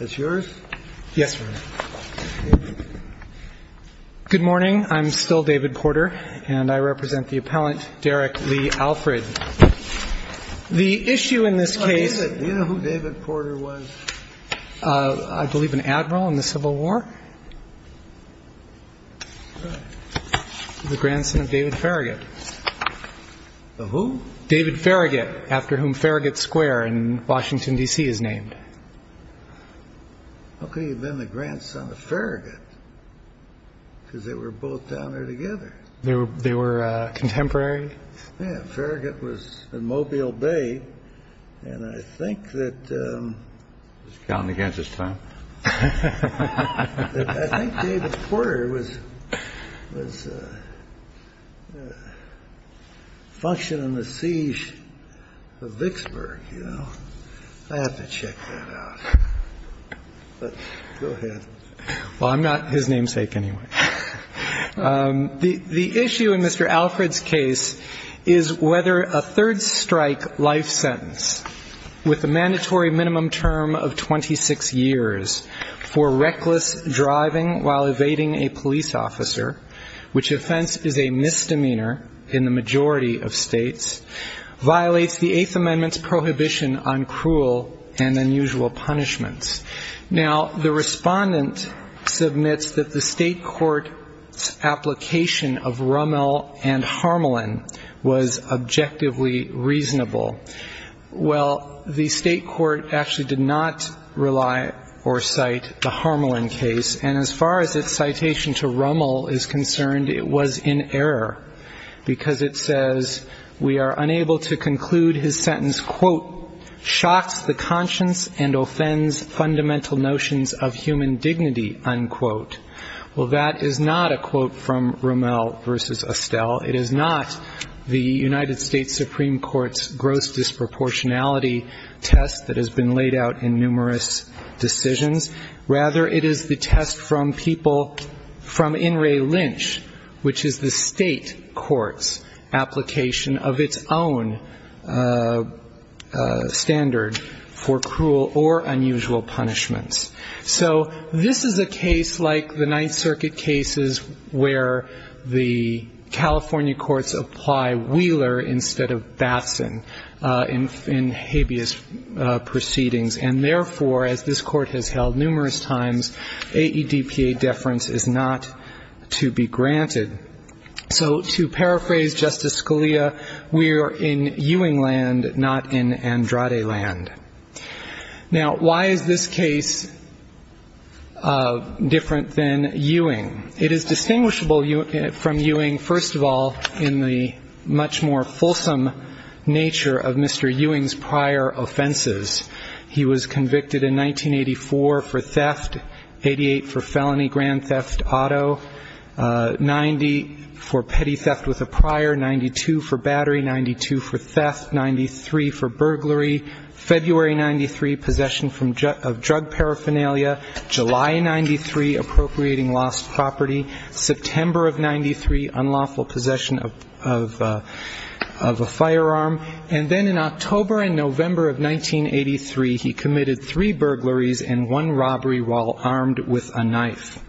is yours. Yes. Good morning. I'm still David Porter, and I represent the appellant Derek Lee Alfred. The issue in this case. You know who David Porter was? I believe an admiral in the Civil War. The grandson of David Farragut. Who? David Farragut, after whom Farragut Square in Washington, D.C. is named. How could he have been the grandson of Farragut? Because they were both down there together. They were, they were contemporary? Yeah, Farragut was in Mobile Bay, and I think that. Was he counting against the Siege of Vicksburg, you know? I have to check that out. But go ahead. Well, I'm not his namesake anyway. The issue in Mr. Alfred's case is whether a third-strike life sentence with a mandatory minimum term of 26 years for reckless driving while evading a police officer, which offense is a misdemeanor in the majority of states, violates the Eighth Amendment's prohibition on cruel and unusual punishments. Now, the respondent submits that the state court's application of Rummel and Harmelin was objectively reasonable. Well, the state court actually did not rely or cite the Harmelin case, and as far as its citation to Rummel is concerned, it was in error, because it says, we are unable to conclude his sentence, quote, shocks the conscience and offends fundamental notions of human dignity, unquote. Well, that is not a quote from Rummel v. Estelle. It is not the United States Supreme Court's gross disproportionality test that has been to test from people, from In re Lynch, which is the state court's application of its own standard for cruel or unusual punishments. So this is a case like the Ninth Circuit cases, where the California courts apply Wheeler instead of Batson in habeas corpus proceedings, and therefore, as this Court has held numerous times, AEDPA deference is not to be granted. So to paraphrase Justice Scalia, we are in Ewing land, not in Andrade land. Now, why is this case different than Ewing? It is distinguishable from Ewing, first of all, in the much more fulsome nature of Mr. Ewing's prior offenses. He was convicted in 1984 for theft, 88 for felony grand theft auto, 90 for petty theft with a prior, 92 for battery, 92 for theft, 93 for burglary, February 93, possession of drug paraphernalia, July 93, appropriating lost property, September of 93, unlawful possession of a firearm, and then in October and November of 1983, he committed three burglaries and one robbery while armed with a knife.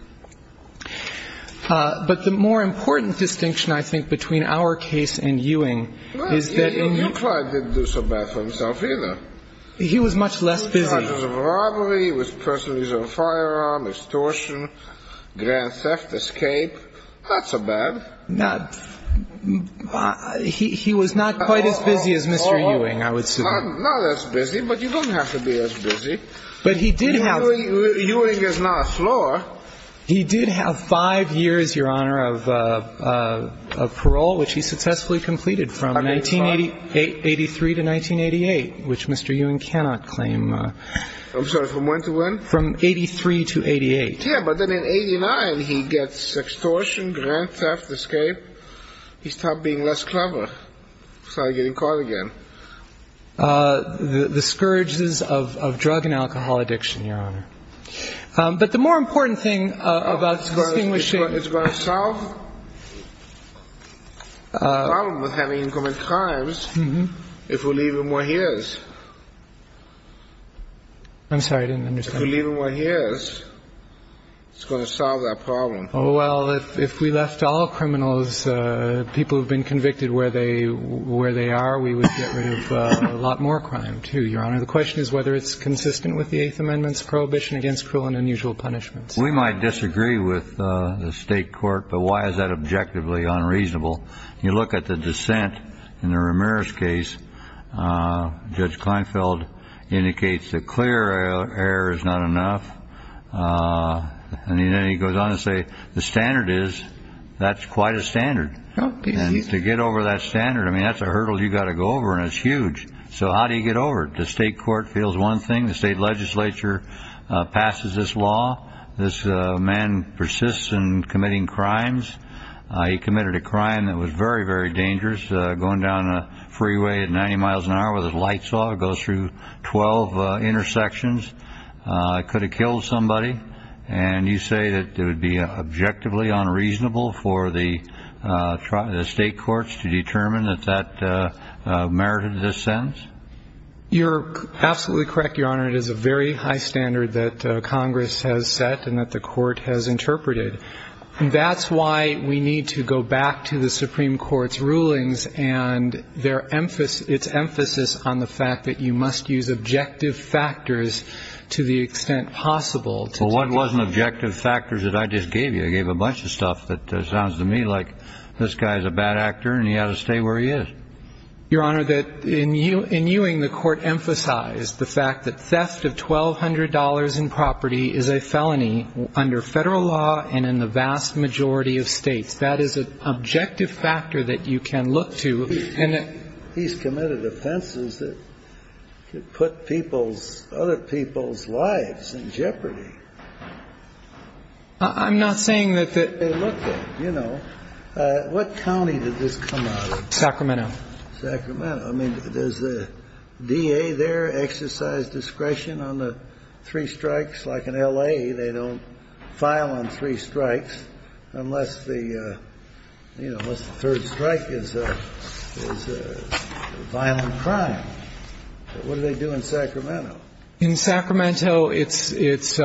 But the more important distinction, I think, between our case and Ewing is that in Well, Euclid didn't do so bad for himself either. He was much less busy. charges of robbery, with personal use of a firearm, extortion, grand theft, escape. Not so bad. He was not quite as busy as Mr. Ewing, I would suppose. Not as busy, but you don't have to be as busy. But he did have Ewing is not a floor. He did have five years, Your Honor, of parole, which he successfully completed from 1983 to 1988, which Mr. Ewing cannot claim. I'm sorry, from when to when? From 83 to 88. Yeah, but then in 89, he gets extortion, grand theft, escape. He stopped being less clever. Started getting caught again. The scourges of drug and alcohol addiction, Your Honor. But the more important thing about extinguishing It's going to solve the problem of having incoming crimes if we leave him where he is. I'm sorry, I didn't understand. If we leave him where he is, it's going to solve that problem. Well, if we left all criminals, people who have been convicted where they are, we would get rid of a lot more crime, too, Your Honor. The question is whether it's consistent with the Eighth Amendment's prohibition against cruel and unusual punishments. We might disagree with the state court, but why is that objectively unreasonable? You look at the dissent in the Ramirez case. Judge Kleinfeld indicates that clear error is not enough. And then he goes on to say the standard is that's quite a standard. And to get over that standard, I mean, that's a hurdle you've got to go over, and it's huge. So how do you get over it? The state court feels one thing. The state legislature passes this law. This man persists in committing crimes. He committed a crime that was very, very dangerous, going down a freeway at 90 miles an hour with his lights off, goes through 12 intersections, could have killed somebody. And you say that it would be objectively unreasonable for the state courts to determine that that merited this sentence? You're absolutely correct, Your Honor. It is a very high standard that Congress has set and that the court has interpreted. And that's why we need to go back to the Supreme Court's rulings and its emphasis on the fact that you must use objective factors to the extent possible. But what wasn't objective factors that I just gave you? I gave a bunch of stuff that sounds to me like this guy's a bad actor and he ought to stay where he is. Your Honor, in Ewing, the court emphasized the fact that theft of $1,200 in property is a felony under federal law and in the vast majority of states. That is an objective factor that you can look to. He's committed offenses that could put people's, other people's lives in jeopardy. I'm not saying that that's what they looked at. You know, what county did this come out of? Sacramento. Sacramento. I mean, does the DA there exercise discretion on the three strikes? Like in L.A., they don't file on three strikes unless the, you know, unless the third strike is a violent crime. What do they do in Sacramento? In Sacramento, it's kind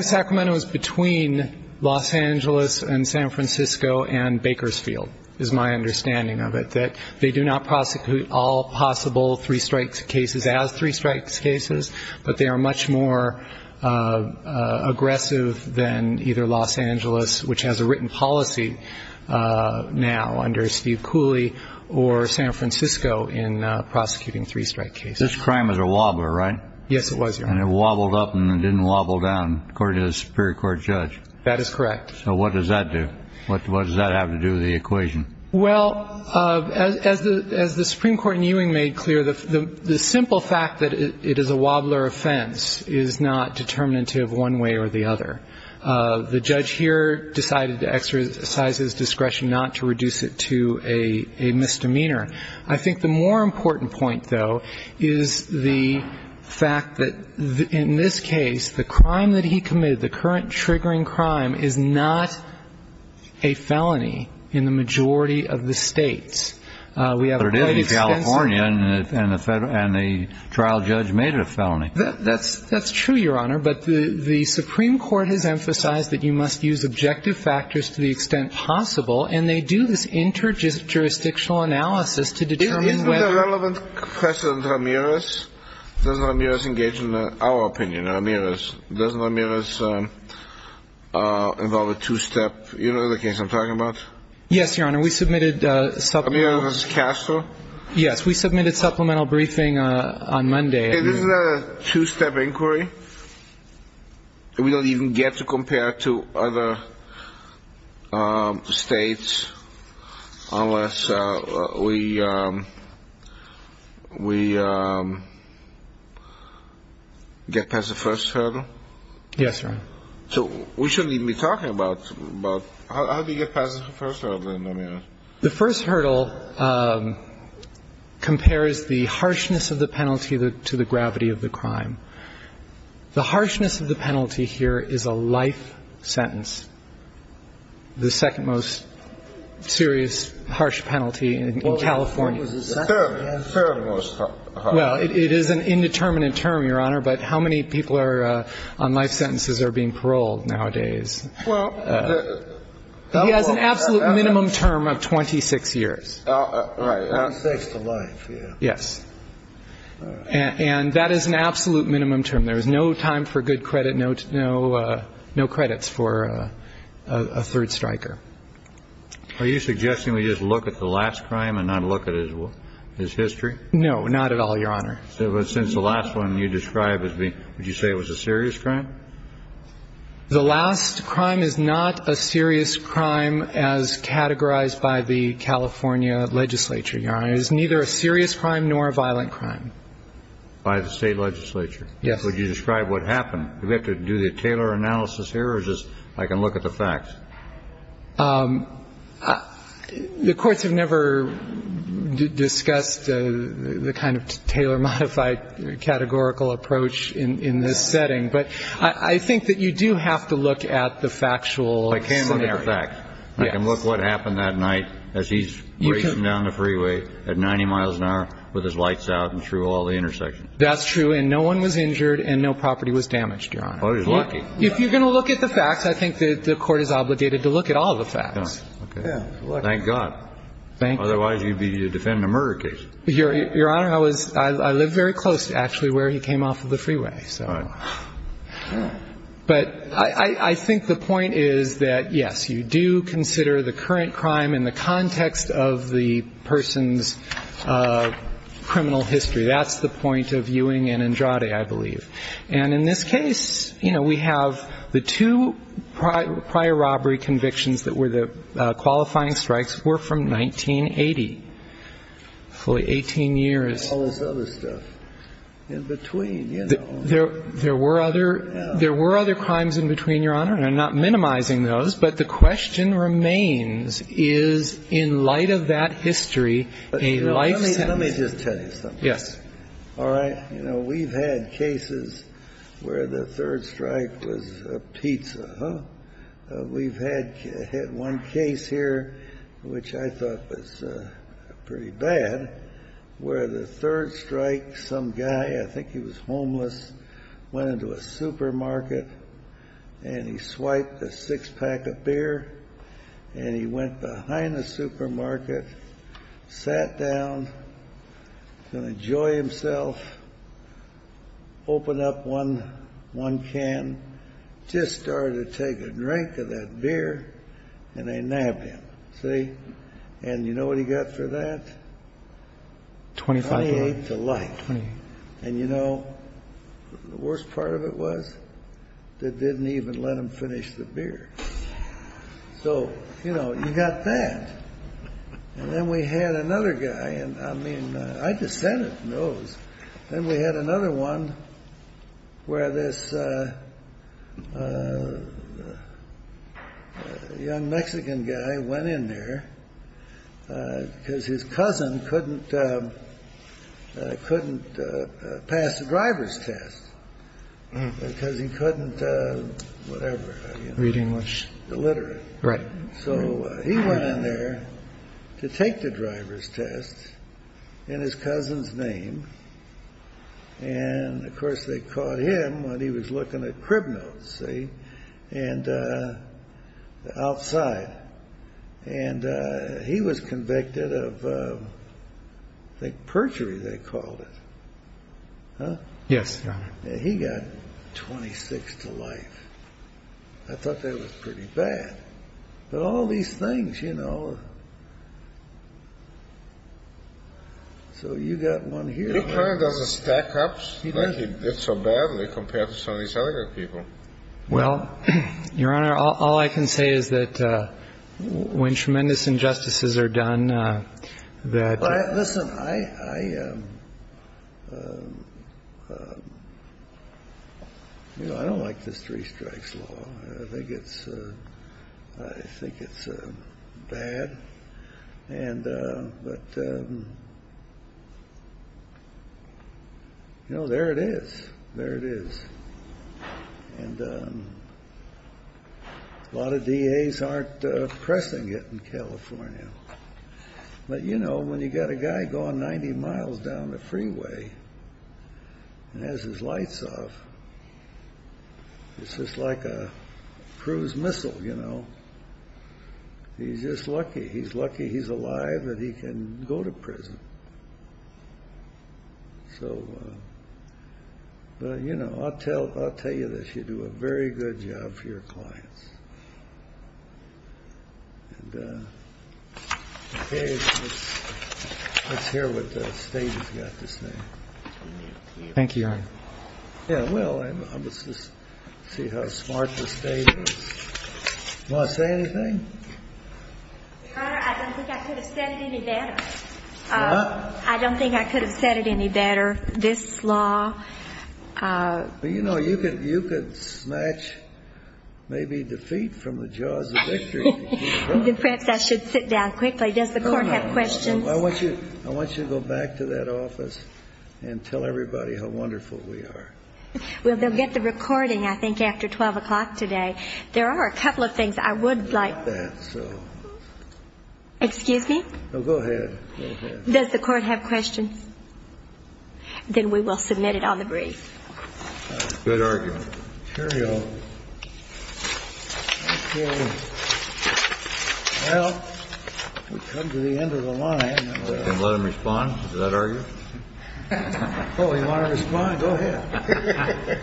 of Sacramento is between Los Angeles and San Francisco and Bakersfield is my understanding of it, that they do not prosecute all possible three strikes cases as three strikes cases, but they are much more aggressive than either Los Angeles, which has a written policy now under Steve Cooley, or San Francisco in prosecuting three strike cases. This crime is a wobbler, right? Yes, it was, Your Honor. And it wobbled up and it didn't wobble down, according to the Superior Court judge. That is correct. So what does that do? What does that have to do with the equation? Well, as the Supreme Court in Ewing made clear, the simple fact that it is a wobbler offense is not determinative one way or the other. The judge here decided to exercise his discretion not to reduce it to a misdemeanor. I think the more important point, though, is the fact that in this case, the crime that he committed, the current triggering crime, is not a felony in the majority of the states. But it is in California, and the trial judge made it a felony. That's true, Your Honor, but the Supreme Court has emphasized that you must use objective factors to the extent possible, and they do this inter-jurisdictional analysis to determine whether — Doesn't Amiraz involve a two-step — you know the case I'm talking about? Yes, Your Honor. We submitted supplemental — Amiraz Castro? Yes. We submitted supplemental briefing on Monday. This is a two-step inquiry? We don't even get to compare to other states unless we get past the first hurdle? Yes, Your Honor. So we shouldn't even be talking about — how do you get past the first hurdle in Amiraz? The first hurdle compares the harshness of the penalty to the gravity of the crime. The harshness of the penalty here is a life sentence, the second-most serious harsh penalty in California. Well, it was the second-most harsh. Well, it is an indeterminate term, Your Honor, but how many people are — on life sentences are being paroled nowadays? Well, the — He has an absolute minimum term of 26 years. Right. 26 to life, yeah. Yes. And that is an absolute minimum term. There is no time for good credit, no credits for a third striker. Are you suggesting we just look at the last crime and not look at his history? No, not at all, Your Honor. Since the last one you described, would you say it was a serious crime? The last crime is not a serious crime as categorized by the California legislature, Your Honor. It is neither a serious crime nor a violent crime. By the state legislature? Yes. Would you describe what happened? Do we have to do the Taylor analysis here, or is this — I can look at the facts? The courts have never discussed the kind of Taylor-modified categorical approach in this setting, but I think that you do have to look at the factual scenario. I can look at the facts. Yes. I can look what happened that night as he's racing down the freeway at 90 miles an hour with his lights out and through all the intersections. That's true, and no one was injured and no property was damaged, Your Honor. Oh, he's lucky. If you're going to look at the facts, I think the court is obligated to look at all the facts. Okay. Thank God. Thank you. Otherwise, you'd be defending a murder case. Your Honor, I live very close to actually where he came off of the freeway. All right. But I think the point is that, yes, you do consider the current crime in the context of the person's criminal history. That's the point of Ewing and Andrade, I believe. And in this case, you know, we have the two prior robbery convictions that were the qualifying strikes were from 1980. Hopefully 18 years. All this other stuff in between, you know. There were other crimes in between, Your Honor, and I'm not minimizing those. But the question remains, is in light of that history a life sentence? Let me just tell you something. Yes. All right. You know, we've had cases where the third strike was a pizza, huh? We've had one case here, which I thought was pretty bad, where the third strike, some guy, I think he was homeless, went into a supermarket, and he swiped a six-pack of beer, and he went behind the supermarket, sat down, going to enjoy himself, opened up one can, just started to take a drink of that beer, and they nabbed him. See? And you know what he got for that? Twenty-eight to life. And, you know, the worst part of it was they didn't even let him finish the beer. So, you know, you got that. And then we had another guy. I mean, I just said it. Then we had another one where this young Mexican guy went in there because his cousin couldn't pass the driver's test because he couldn't whatever. Read English. Literate. Right. So he went in there to take the driver's test in his cousin's name. And, of course, they caught him when he was looking at crib notes, see? And outside. And he was convicted of, I think, perjury they called it. Huh? Yes, Your Honor. He got 26 to life. I thought that was pretty bad. But all these things, you know. So you got one here. He kind of doesn't stack up like he did so badly compared to some of these other good people. Well, Your Honor, all I can say is that when tremendous injustices are done, that. Listen, I don't like this three strikes law. I think it's bad. But, you know, there it is. There it is. And a lot of DAs aren't pressing it in California. But, you know, when you got a guy going 90 miles down the freeway and has his lights off, it's just like a cruise missile, you know. He's just lucky. He's lucky he's alive and he can go to prison. So, you know, I'll tell you this. You do a very good job for your clients. And, okay, let's hear what the State has got to say. Thank you, Your Honor. Yeah, well, let's just see how smart the State is. Want to say anything? Your Honor, I don't think I could have said it any better. What? I don't think I could have said it any better. Well, you know, you could snatch maybe defeat from the jaws of victory. Perhaps I should sit down quickly. Does the Court have questions? I want you to go back to that office and tell everybody how wonderful we are. Well, they'll get the recording, I think, after 12 o'clock today. There are a couple of things I would like. Excuse me? No, go ahead. Does the Court have questions? Then we will submit it on the brief. Good argument. Thank you. Well, we've come to the end of the line. Let him respond to that argument. Oh, you want to respond? Go ahead.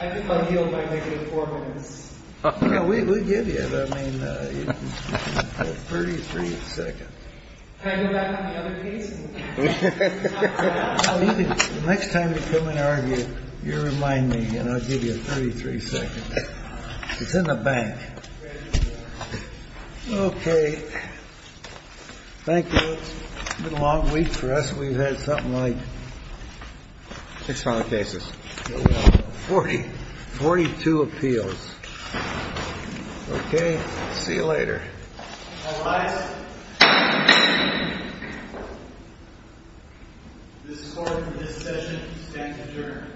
I think I'll yield by making it four minutes. No, we'll give you it. I mean, 33 seconds. Can I go back on the other case? The next time you come and argue, you remind me, and I'll give you 33 seconds. It's in the bank. Okay. Thank you. It's been a long week for us. We've had something like six filing cases. Forty-two appeals. Okay. See you later. All rise. This Court, in this session, stands adjourned. Thank you.